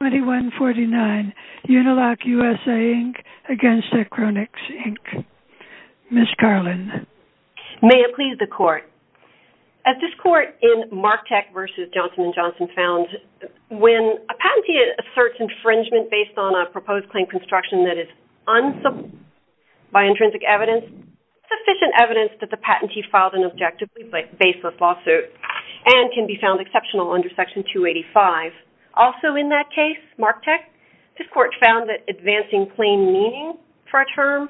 2149, Uniloc USA, Inc. v. Acronis, Inc. Ms. Carlin. May it please the Court. As this Court in Martek v. Johnson & Johnson found, when a patentee asserts infringement based on a proposed claim construction that is unsubstantiated by intrinsic evidence, there is sufficient evidence that the patentee filed an objectively baseless lawsuit and can be found exceptional under Section 285. Also in that case, Martek, this Court found that advancing plain meaning for a term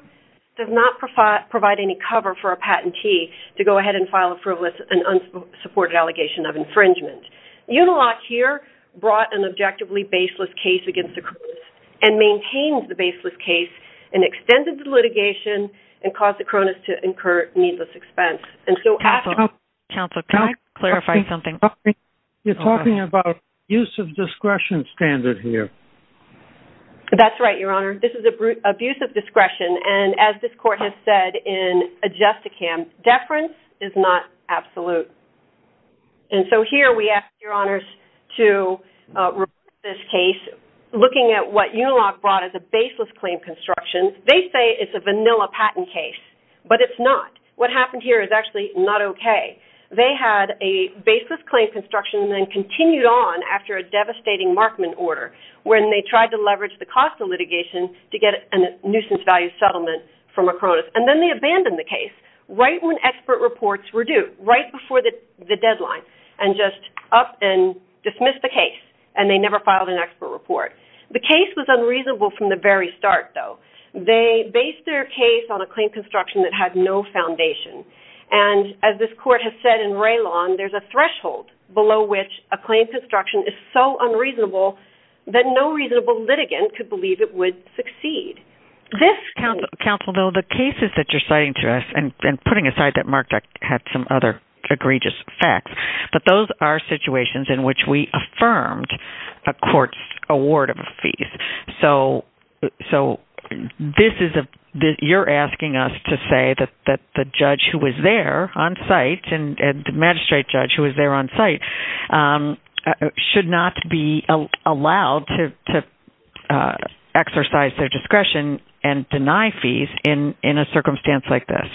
does not provide any cover for a patentee to go ahead and file a frivolous and unsupported allegation of infringement. Uniloc here brought an objectively baseless case against Acronis and maintained the baseless case and extended the litigation and caused Acronis to incur needless expense. And so after... Counsel. Counsel. Can I clarify something? You're talking about abuse of discretion standard here. That's right, Your Honor. This is abuse of discretion and as this Court has said in Adjusticam, deference is not absolute. And so here we ask Your Honors to review this case looking at what Uniloc brought as a baseless claim construction. They say it's a vanilla patent case, but it's not. What happened here is actually not okay. They had a baseless claim construction and then continued on after a devastating Markman order when they tried to leverage the cost of litigation to get a nuisance value settlement from Acronis and then they abandoned the case right when expert reports were due, right before the deadline and just up and dismissed the case and they never filed an expert report. The case was unreasonable from the very start, though. They based their case on a claim construction that had no foundation. And as this Court has said in Raylon, there's a threshold below which a claim construction is so unreasonable that no reasonable litigant could believe it would succeed. This counsel... Counsel, though, the cases that you're citing to us and putting aside that Mark had some other egregious facts, but those are situations in which we affirmed a court's award of fees. So this is a... You're asking us to say that the judge who was there on site and the magistrate judge who was there on site should not be allowed to exercise their discretion and deny fees in a circumstance like this.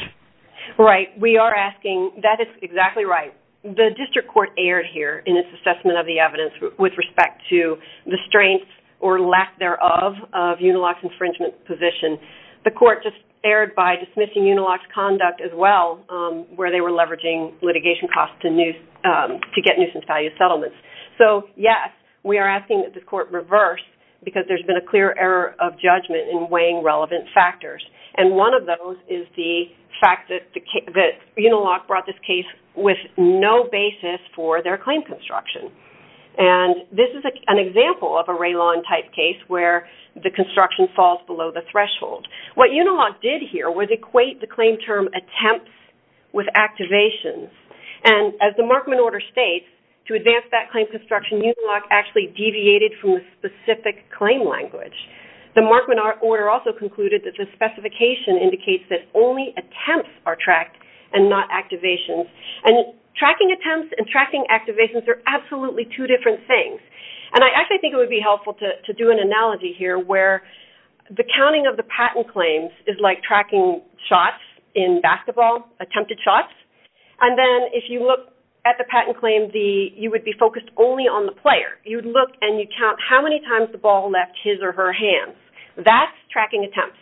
Right. We are asking... That is exactly right. The district court erred here in its assessment of the evidence with respect to the strengths or lack thereof of Uniloc's infringement position. The court just erred by dismissing Uniloc's conduct as well where they were leveraging litigation costs to get nuisance value settlements. So yes, we are asking that the court reverse because there's been a clear error of judgment in weighing relevant factors. And one of those is the fact that Uniloc brought this case with no basis for their claim construction. And this is an example of a Raylon type case where the construction falls below the threshold. What Uniloc did here was equate the claim term attempts with activations. And as the Markman order states, to advance that claim construction, Uniloc actually deviated from the specific claim language. The Markman order also concluded that the specification indicates that only attempts are tracked and not activations. And tracking attempts and tracking activations are absolutely two different things. And I actually think it would be helpful to do an analogy here where the counting of the patent claims is like tracking shots in basketball, attempted shots. And then if you look at the patent claim, you would be focused only on the player. You'd look and you'd count how many times the ball left his or her hands. That's tracking attempts.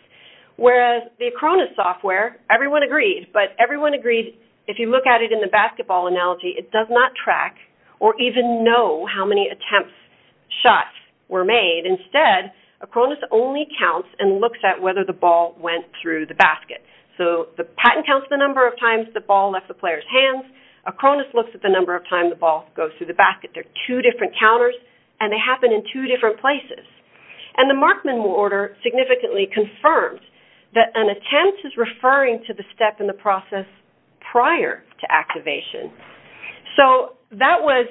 Whereas the Acronis software, everyone agreed, but everyone agreed if you look at it in the basketball analogy, it does not track or even know how many attempts shots were made. Instead, Acronis only counts and looks at whether the ball went through the basket. So the patent counts the number of times the ball left the player's hands. Acronis looks at the number of times the ball goes through the basket. They're two different counters and they happen in two different places. And the Markman order significantly confirmed that an attempt is referring to the step in the process prior to activation. So that was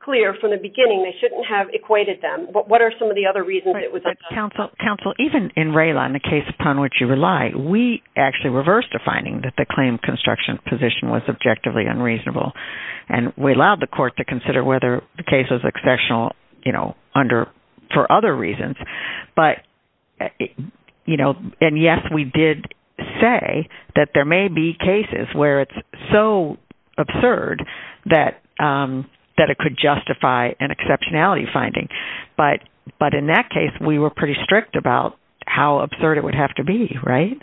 clear from the beginning. They shouldn't have equated them. What are some of the other reasons it was? Counsel, even in Rayla, in the case upon which you rely, we actually reversed the finding that the claim construction position was objectively unreasonable. And we allowed the court to consider whether the case was exceptional, you know, for other reasons. But, you know, and yes, we did say that there may be cases where it's so absurd that it could justify an exceptionality finding. But in that case, we were pretty strict about how absurd it would have to be, right?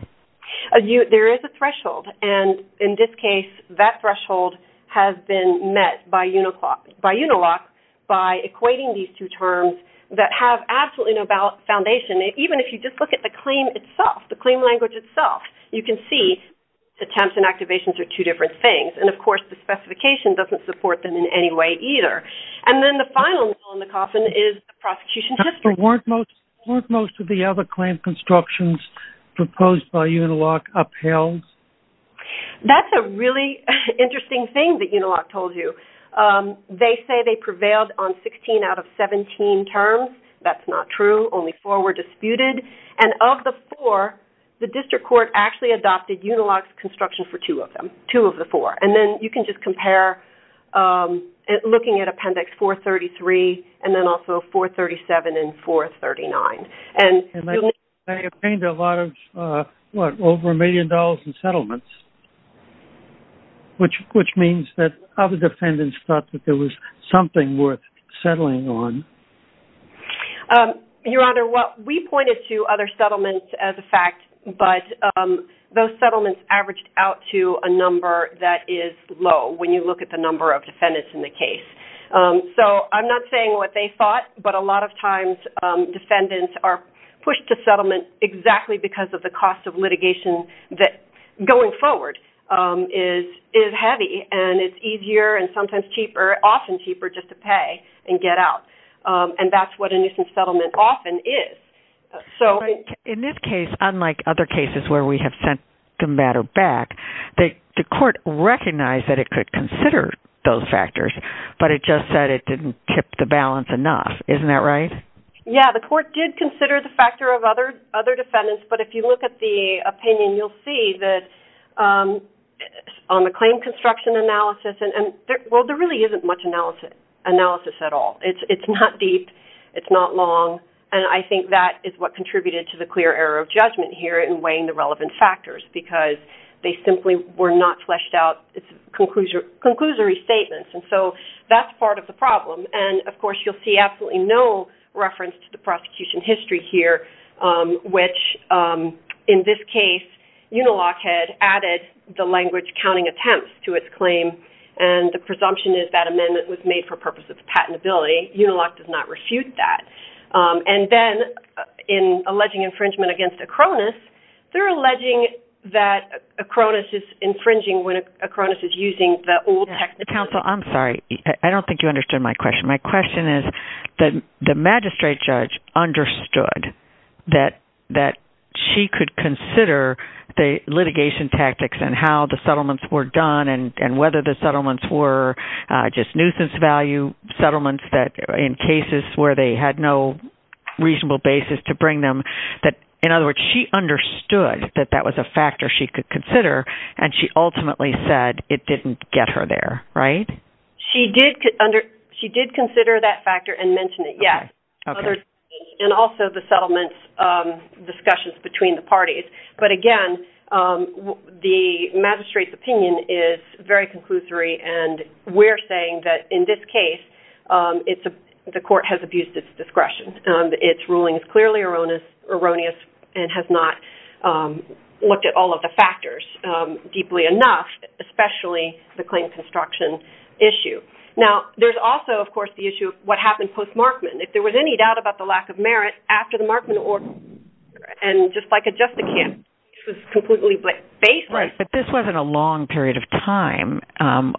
There is a threshold. And in this case, that threshold has been met by Unilock by equating these two terms that have absolutely no foundation. Even if you just look at the claim itself, the claim language itself, you can see attempts and activations are two different things. And of course, the specification doesn't support them in any way either. And then the final needle in the coffin is the prosecution history. So weren't most of the other claim constructions proposed by Unilock upheld? That's a really interesting thing that Unilock told you. They say they prevailed on 16 out of 17 terms. That's not true. Only four were disputed. And of the four, the district court actually adopted Unilock's construction for two of them, two of the four. And then you can just compare looking at Appendix 433 and then also 437 and 439. And they obtained a lot of, what, over a million dollars in settlements, which means that other defendants thought that there was something worth settling on. Your Honor, we pointed to other settlements as a fact, but those settlements averaged out to a number that is low when you look at the number of defendants in the case. So I'm not saying what they thought, but a lot of times defendants are pushed to settlement exactly because of the cost of litigation that, going forward, is heavy and it's easier and sometimes cheaper, often cheaper, just to pay and get out. And that's what a nuisance settlement often is. In this case, unlike other cases where we have sent the matter back, the court recognized that it could consider those factors, but it just said it didn't tip the balance enough. Isn't that right? Yeah. The court did consider the factor of other defendants, but if you look at the opinion, you'll see that on the claim construction analysis, well, there really isn't much analysis at all. It's not deep. It's not long. And I think that is what contributed to the clear error of judgment here in weighing the relevant factors because they simply were not fleshed out conclusory statements. And so that's part of the problem. And of course, you'll see absolutely no reference to the prosecution history here, which, in this case, Uniloc had added the language counting attempts to its claim, and the presumption is that amendment was made for purposes of patentability. Uniloc does not refute that. And then, in alleging infringement against Acronis, they're alleging that Acronis is infringing when Acronis is using the old technical... Counsel, I'm sorry. I don't think you understood my question. My question is that the magistrate judge understood that she could consider the litigation tactics and how the settlements were done and whether the settlements were just nuisance value settlements that, in cases where they had no reasonable basis to bring them, that, in other words, she understood that that was a factor she could consider, and she ultimately said it didn't get her there, right? She did consider that factor and mentioned it, yes, and also the settlements discussions between the parties. But again, the magistrate's opinion is very conclusory, and we're saying that, in this case, the court has abused its discretion. Its ruling is clearly erroneous and has not looked at all of the factors deeply enough, especially the claim construction issue. Now, there's also, of course, the issue of what happened post-Markman. If there was any doubt about the lack of merit after the Markman order, and just like a justicand, this was completely based on... Right, but this wasn't a long period of time.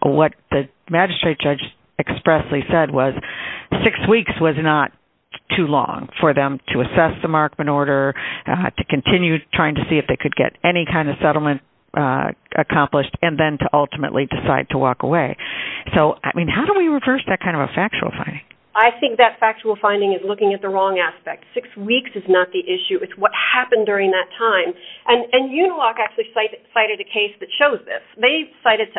What the magistrate judge expressly said was six weeks was not too long for them to assess the Markman order, to continue trying to see if they could get any kind of settlement accomplished, and then to ultimately decide to walk away. So, I mean, how do we reverse that kind of a factual finding? I think that factual finding is looking at the wrong aspect. Six weeks is not the issue. It's what happened during that time. And Uniloc actually cited a case that shows this. They cited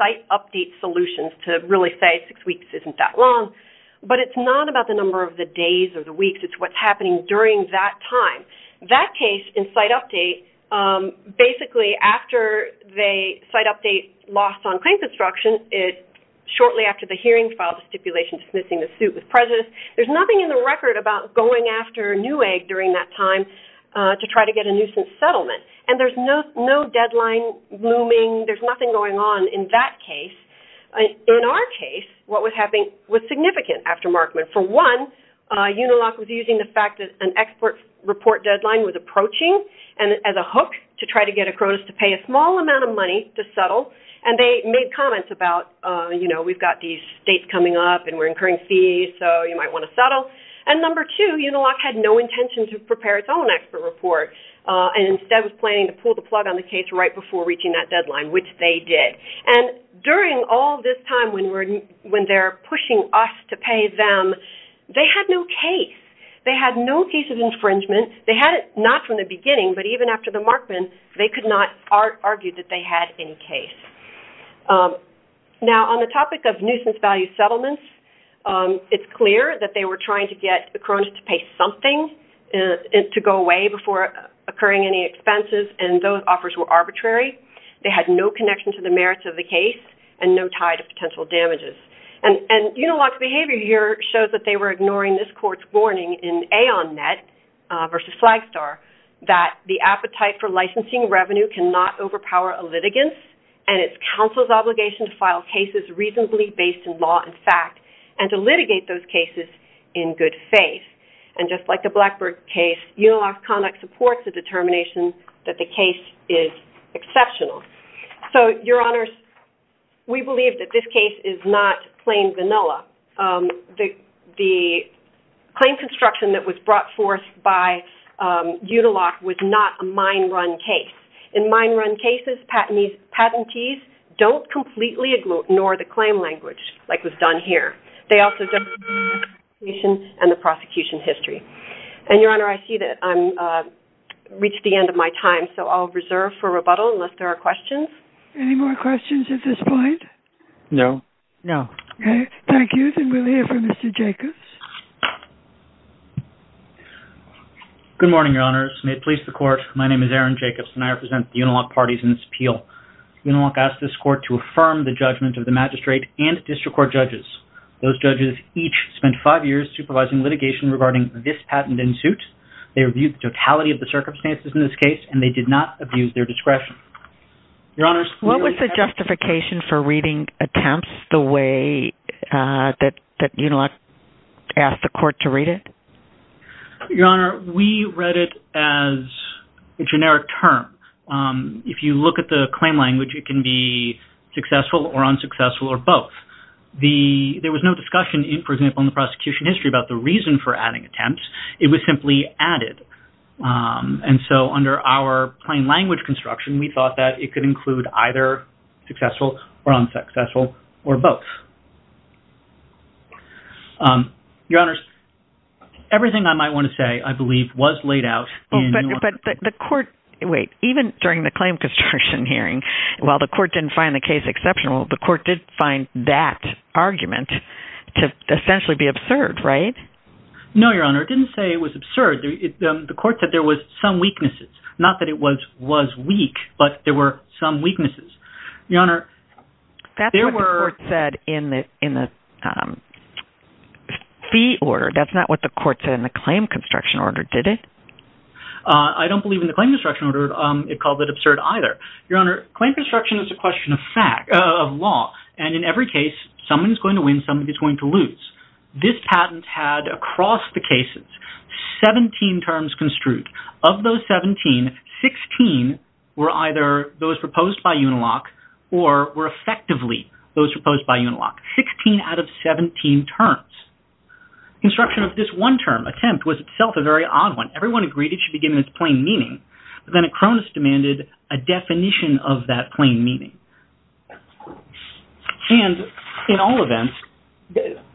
site update solutions to really say six weeks isn't that long, but it's not about the number of the days or the weeks. It's what's happening during that time. That case, in site update, basically, after the site update lost on claim construction, shortly after the hearing filed a stipulation dismissing the suit with presidents, there's nothing in the record about going after Newegg during that time to try to get a nuisance settlement, and there's no deadline looming. There's nothing going on in that case. In our case, what was happening was significant after Markman. For one, Uniloc was using the fact that an export report deadline was approaching as a hook to try to get Acronis to pay a small amount of money to settle, and they made comments about, you know, we've got these states coming up and we're incurring fees, so you might want to settle. And number two, Uniloc had no intention to prepare its own export report and instead was planning to pull the plug on the case right before reaching that deadline, which they did. And during all this time when they're pushing us to pay them, they had no case. They had no case of infringement. They had it not from the beginning, but even after the Markman, they could not argue that they had any case. Now on the topic of nuisance value settlements, it's clear that they were trying to get Acronis to pay something to go away before incurring any expenses, and those offers were arbitrary. They had no connection to the merits of the case and no tie to potential damages. And Uniloc's behavior here shows that they were ignoring this court's warning in AonNet versus Flagstar that the appetite for licensing revenue cannot overpower a litigant, and it's counsel's obligation to file cases reasonably based in law and fact and to litigate those cases in good faith. And just like the Blackbird case, Uniloc conduct supports the determination that the case is exceptional. So, Your Honors, we believe that this case is not plain vanilla. The claim construction that was brought forth by Uniloc was not a mine-run case. In mine-run cases, patentees don't completely ignore the claim language like was done here. They also don't know the prosecution and the prosecution history. And Your Honor, I see that I've reached the end of my time, so I'll reserve for rebuttal unless there are questions. Any more questions at this point? No. No. Okay. Thank you. Then we'll hear from Mr. Jacobs. Good morning, Your Honors. May it please the Court, my name is Aaron Jacobs, and I represent the Uniloc parties in this appeal. Uniloc asked this court to affirm the judgment of the magistrate and district court judges. Those judges each spent five years supervising litigation regarding this patent in suit. They reviewed the totality of the circumstances in this case, and they did not abuse their discretion. Your Honors. What was the justification for reading attempts the way that Uniloc asked the court to read it? Your Honor, we read it as a generic term. If you look at the claim language, it can be successful or unsuccessful or both. There was no discussion, for example, in the prosecution history about the reason for adding attempts. It was simply added. And so, under our plain language construction, we thought that it could include either successful or unsuccessful or both. Your Honors, everything I might want to say, I believe, was laid out in Uniloc's... But the court, wait, even during the claim construction hearing, while the court didn't find the case exceptional, the court did find that argument to essentially be absurd, right? No, Your Honor. It didn't say it was absurd. The court said there was some weaknesses, not that it was weak, but there were some weaknesses. Your Honor, there were... That's what the court said in the fee order. That's not what the court said in the claim construction order, did it? I don't believe in the claim construction order. It called it absurd either. Your Honor, claim construction is a question of fact, of law, and in every case, someone is going to win, someone is going to lose. This patent had, across the cases, 17 terms construed. Of those 17, 16 were either those proposed by Uniloc or were effectively those proposed by Uniloc. 16 out of 17 terms. Construction of this one-term attempt was itself a very odd one. Everyone agreed it should be given its plain meaning, but then Acronis demanded a definition of that plain meaning. And in all events,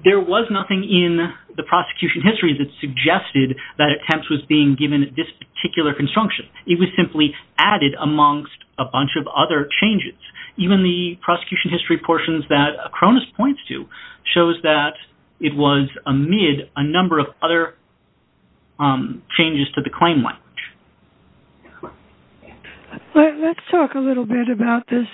there was nothing in the prosecution history that suggested that attempts was being given this particular construction. It was simply added amongst a bunch of other changes. Even the prosecution history portions that Acronis points to shows that it was amid a number of other changes to the claim language. Let's talk a little bit about this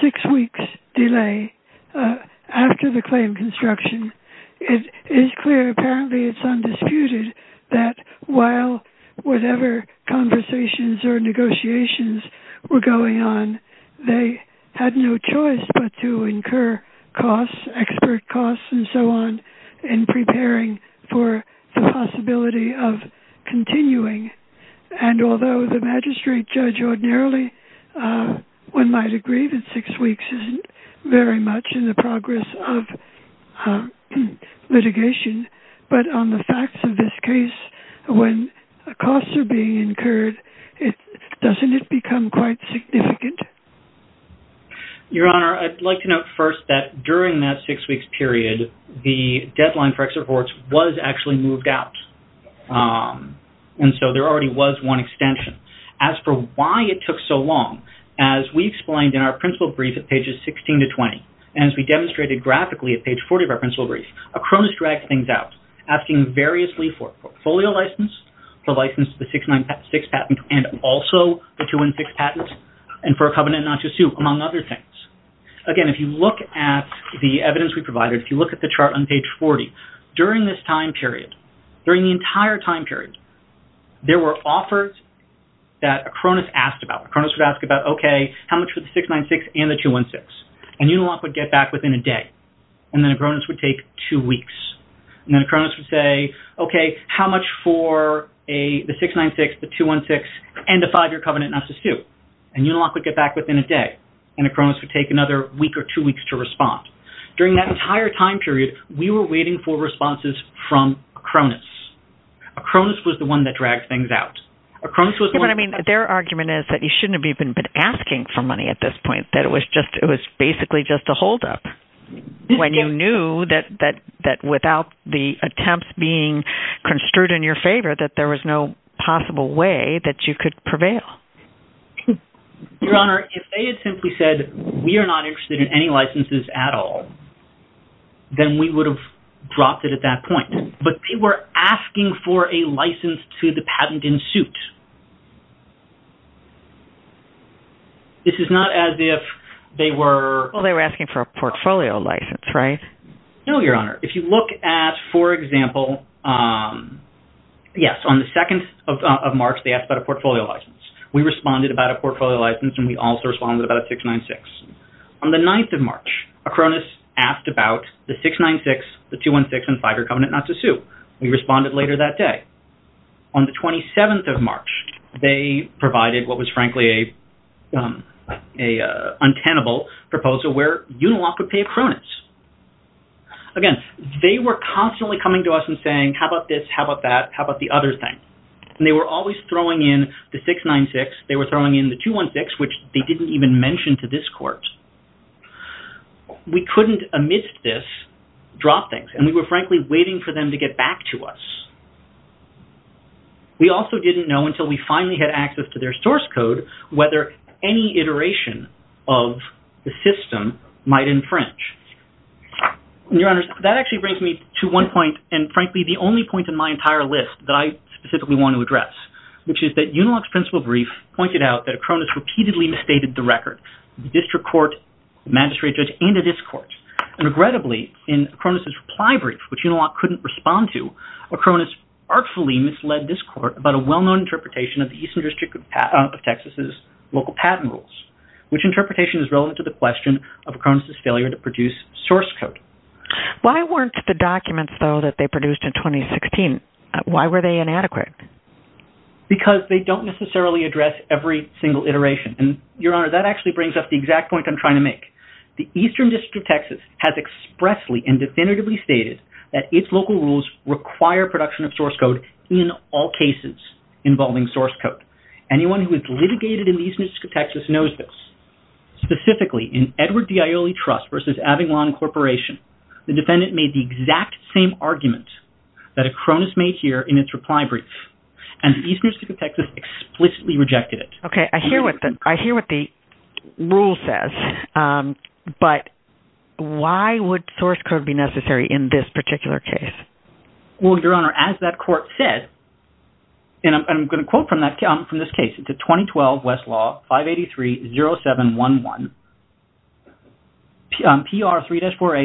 six weeks delay after the claim construction. It is clear, apparently it's undisputed, that while whatever conversations or negotiations were going on, they had no choice but to incur costs, expert costs and so on, in preparing for the possibility of continuing. And although the magistrate judge ordinarily, one might agree, that six weeks isn't very much in the progress of litigation, but on the facts of this case, when costs are being incurred, doesn't it become quite significant? Your Honor, I'd like to note first that during that six weeks period, the deadline for expert reports was actually moved out. And so there already was one extension. As for why it took so long, as we explained in our principle brief at pages 16 to 20, and as we demonstrated graphically at page 40 of our principle brief, Acronis dragged things out, asking variously for portfolio license, for license to the 696 patent and also the 216 patent, and for a covenant not to sue, among other things. Again, if you look at the evidence we provided, if you look at the chart on page 40, during this time period, during the entire time period, there were offers that Acronis asked about. Acronis would ask about, okay, how much for the 696 and the 216? And Unilock would get back within a day. And then Acronis would take two weeks. And then Acronis would say, okay, how much for the 696, the 216 and the five-year covenant not to sue? And Unilock would get back within a day. And Acronis would take another week or two weeks to respond. During that entire time period, we were waiting for responses from Acronis. Acronis was the one that dragged things out. Acronis was the one... But I mean, their argument is that you shouldn't have even been asking for money at this point, that it was just, it was basically just a holdup, when you knew that without the attempts being construed in your favor, that there was no possible way that you could prevail. Your Honor, if they had simply said, we are not interested in any licenses at all, then we would have dropped it at that point. But they were asking for a license to the patent in suit. This is not as if they were... Well, they were asking for a portfolio license, right? No, Your Honor. If you look at, for example, yes, on the 2nd of March, they asked about a portfolio license. We responded about a portfolio license, and we also responded about a 696. On the 9th of March, Acronis asked about the 696, the 216, and Fiverr covenant not to sue. We responded later that day. On the 27th of March, they provided what was frankly a untenable proposal where Unilock would pay Acronis. Again, they were constantly coming to us and saying, how about this? How about that? How about the other thing? And they were always throwing in the 696. They were throwing in the 216, which they didn't even mention to this court. We couldn't, amidst this, drop things, and we were frankly waiting for them to get back to us. We also didn't know until we finally had access to their source code whether any iteration of the system might infringe. Your Honor, that actually brings me to one point, and frankly, the only point in my entire list that I specifically want to address, which is that Unilock's principle brief pointed out that Acronis repeatedly misstated the record, the district court, the magistrate judge, and the district court, and regrettably, in Acronis' reply brief, which Unilock couldn't respond to, Acronis artfully misled this court about a well-known interpretation of the Eastern District of Texas' local patent rules, which interpretation is relevant to the question of Acronis' failure to produce source code. Why weren't the documents, though, that they produced in 2016, why were they inadequate? Because they don't necessarily address every single iteration, and Your Honor, that actually brings up the exact point I'm trying to make. The Eastern District of Texas has expressly and definitively stated that its local rules require production of source code in all cases involving source code. Anyone who has litigated in the Eastern District of Texas knows this. Specifically, in Edward D. Aioli Trust v. Avignon Corporation, the defendant made the exact same argument that Acronis made here in its reply brief, and the Eastern District of Texas explicitly rejected it. Okay, I hear what the rule says, but why would source code be necessary in this particular case? Well, Your Honor, as that court said, and I'm going to quote from this case, it's a PR 3-4A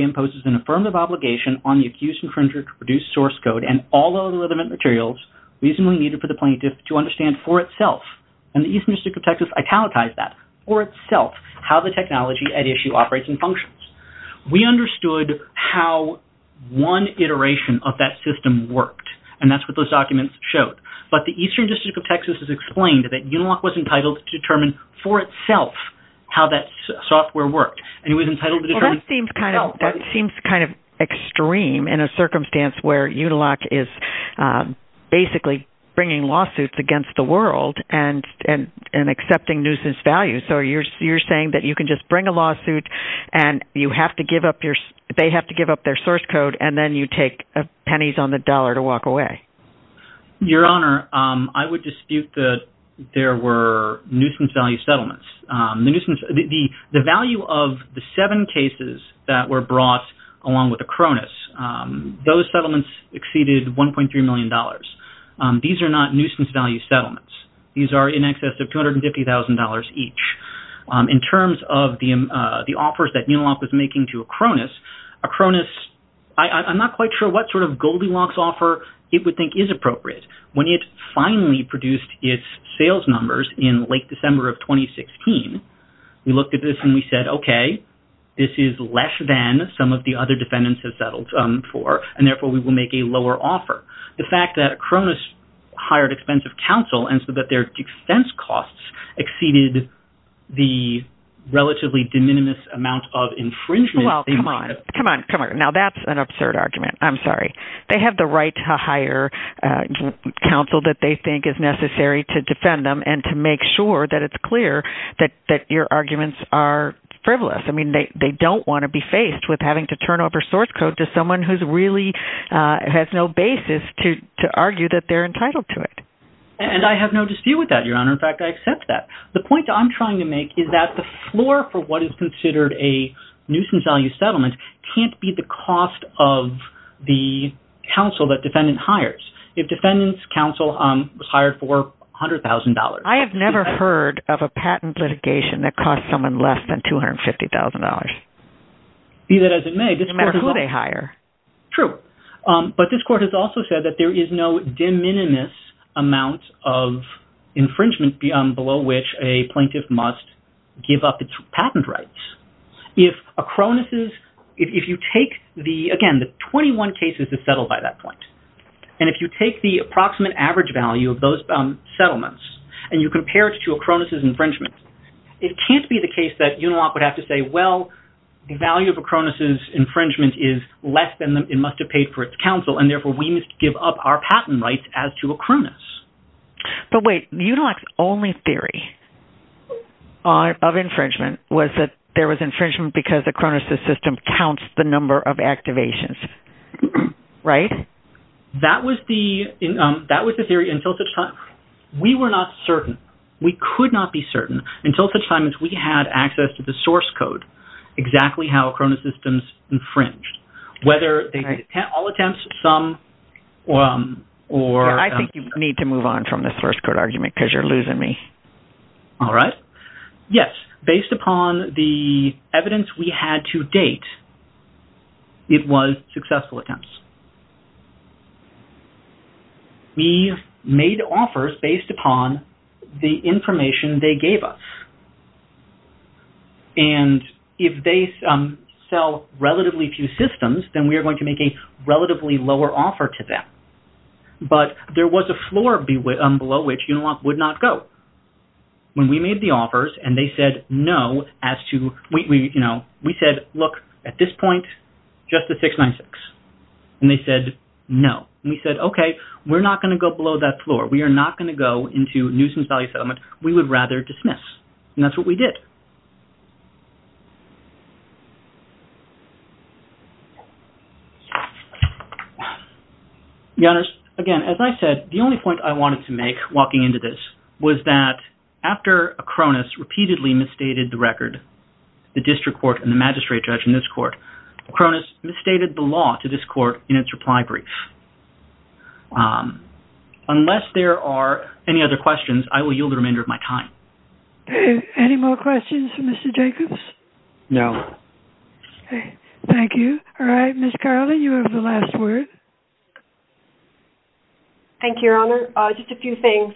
imposes an affirmative obligation on the accused infringer to produce source code and all other relevant materials reasonably needed for the plaintiff to understand for itself, and the Eastern District of Texas italicized that, for itself, how the technology at issue operates and functions. We understood how one iteration of that system worked, and that's what those documents showed, but the Eastern District of Texas has explained that Uniloc was entitled to determine for itself how that software worked, and it was entitled to determine for itself. That seems kind of extreme in a circumstance where Uniloc is basically bringing lawsuits against the world and accepting nuisance value, so you're saying that you can just bring a lawsuit and they have to give up their source code, and then you take pennies on the dollar to walk away. Your Honor, I would dispute that there were nuisance value settlements. The value of the seven cases that were brought along with Acronis, those settlements exceeded $1.3 million. These are not nuisance value settlements. These are in excess of $250,000 each. In terms of the offers that Uniloc was making to Acronis, Acronis, I'm not quite sure what sort of Goldilocks offer it would think is appropriate. When it finally produced its sales numbers in late December of 2016, we looked at this and we said, okay, this is less than some of the other defendants have settled for, and therefore we will make a lower offer. The fact that Acronis hired expensive counsel and so that their defense costs exceeded the relatively de minimis amount of infringement they might have... Well, come on. Come on. Come on. Now, that's an absurd argument. I'm sorry. They have the right to hire counsel that they think is necessary to defend them and to make sure that it's clear that your arguments are frivolous. I mean, they don't want to be faced with having to turn over source code to someone who's really has no basis to argue that they're entitled to it. And I have no dispute with that, Your Honor. In fact, I accept that. The point that I'm trying to make is that the floor for what is considered a nuisance value settlement can't be the cost of the counsel that defendant hires. If defendant's counsel was hired for $100,000... I have never heard of a patent litigation that cost someone less than $250,000. See that as it may, this court has also said that there is no de minimis amount of infringement below which a plaintiff must give up its patent rights. If Acronis, if you take the, again, the 21 cases that settled by that point, and if you take the approximate average value of those settlements and you compare it to Acronis' infringement, it can't be the case that Uniloc would have to say, well, the value of Acronis' infringement is less than it must have paid for its counsel, and therefore we must give up our patent rights as to Acronis. But wait, Uniloc's only theory of infringement was that there was infringement because the Acronis' system counts the number of activations, right? That was the, that was the theory until such time, we were not certain. We could not be certain until such time as we had access to the source code, exactly how Acronis' systems infringed, whether they had all attempts, some, or... I think you need to move on from this source code argument because you're losing me. All right. Yes, based upon the evidence we had to date, it was successful attempts. We made offers based upon the information they gave us. And if they sell relatively few systems, then we are going to make a relatively lower offer to them. But there was a floor below which Uniloc would not go. When we made the offers and they said no as to, you know, we said, look, at this point, just a 696. And they said no. We said, OK, we're not going to go below that floor. We are not going to go into nuisance value settlement. We would rather dismiss. And that's what we did. Janice, again, as I said, the only point I wanted to make walking into this was that after Acronis repeatedly misstated the record, the district court and the magistrate judge in this court, Acronis misstated the law to this court in its reply brief. Unless there are any other questions, I will yield the remainder of my time. Any more questions for Mr. Jacobs? No. Thank you. All right, Ms. Carly, you have the last word. Thank you, Your Honor. Just a few things.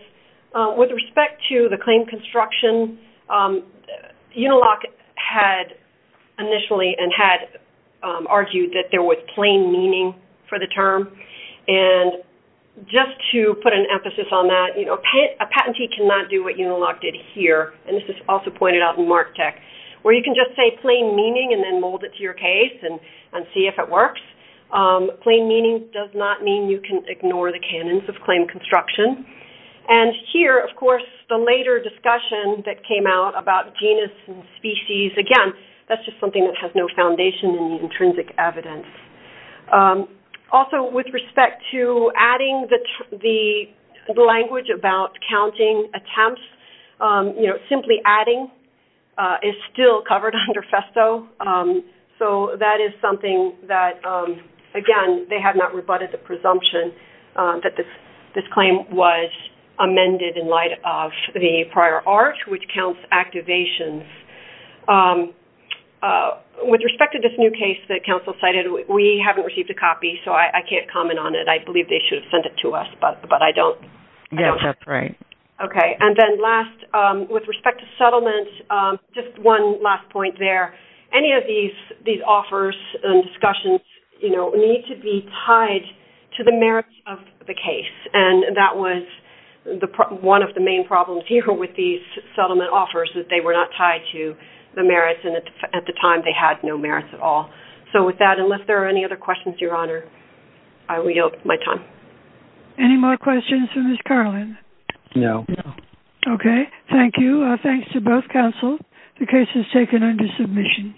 With respect to the claim construction, Uniloc had initially and had argued that there was plain meaning for the term. And just to put an emphasis on that, you know, a patentee cannot do what Uniloc did here. And this is also pointed out in MARC Tech, where you can just say plain meaning and then mold it to your case and see if it works. Plain meaning does not mean you can ignore the canons of claim construction. And here, of course, the later discussion that came out about genus and species, again, that's just something that has no foundation in the intrinsic evidence. Also, with respect to adding the language about counting attempts, you know, simply adding is still covered under FESTO. So that is something that, again, they have not rebutted the presumption that this claim was amended in light of the prior art, which counts activations. With respect to this new case that counsel cited, we haven't received a copy, so I can't comment on it. I believe they should have sent it to us, but I don't. Yes, that's right. OK. And then last, with respect to settlement, just one last point there. Any of these offers and discussions, you know, need to be tied to the merits of the case. And that was one of the main problems here with these settlement offers, that they were not tied to the merits. And at the time, they had no merits at all. So with that, unless there are any other questions, Your Honor, I will yield my time. Any more questions for Ms. Carlin? No. OK. Thank you. Thanks to both counsel. The case is taken under submission.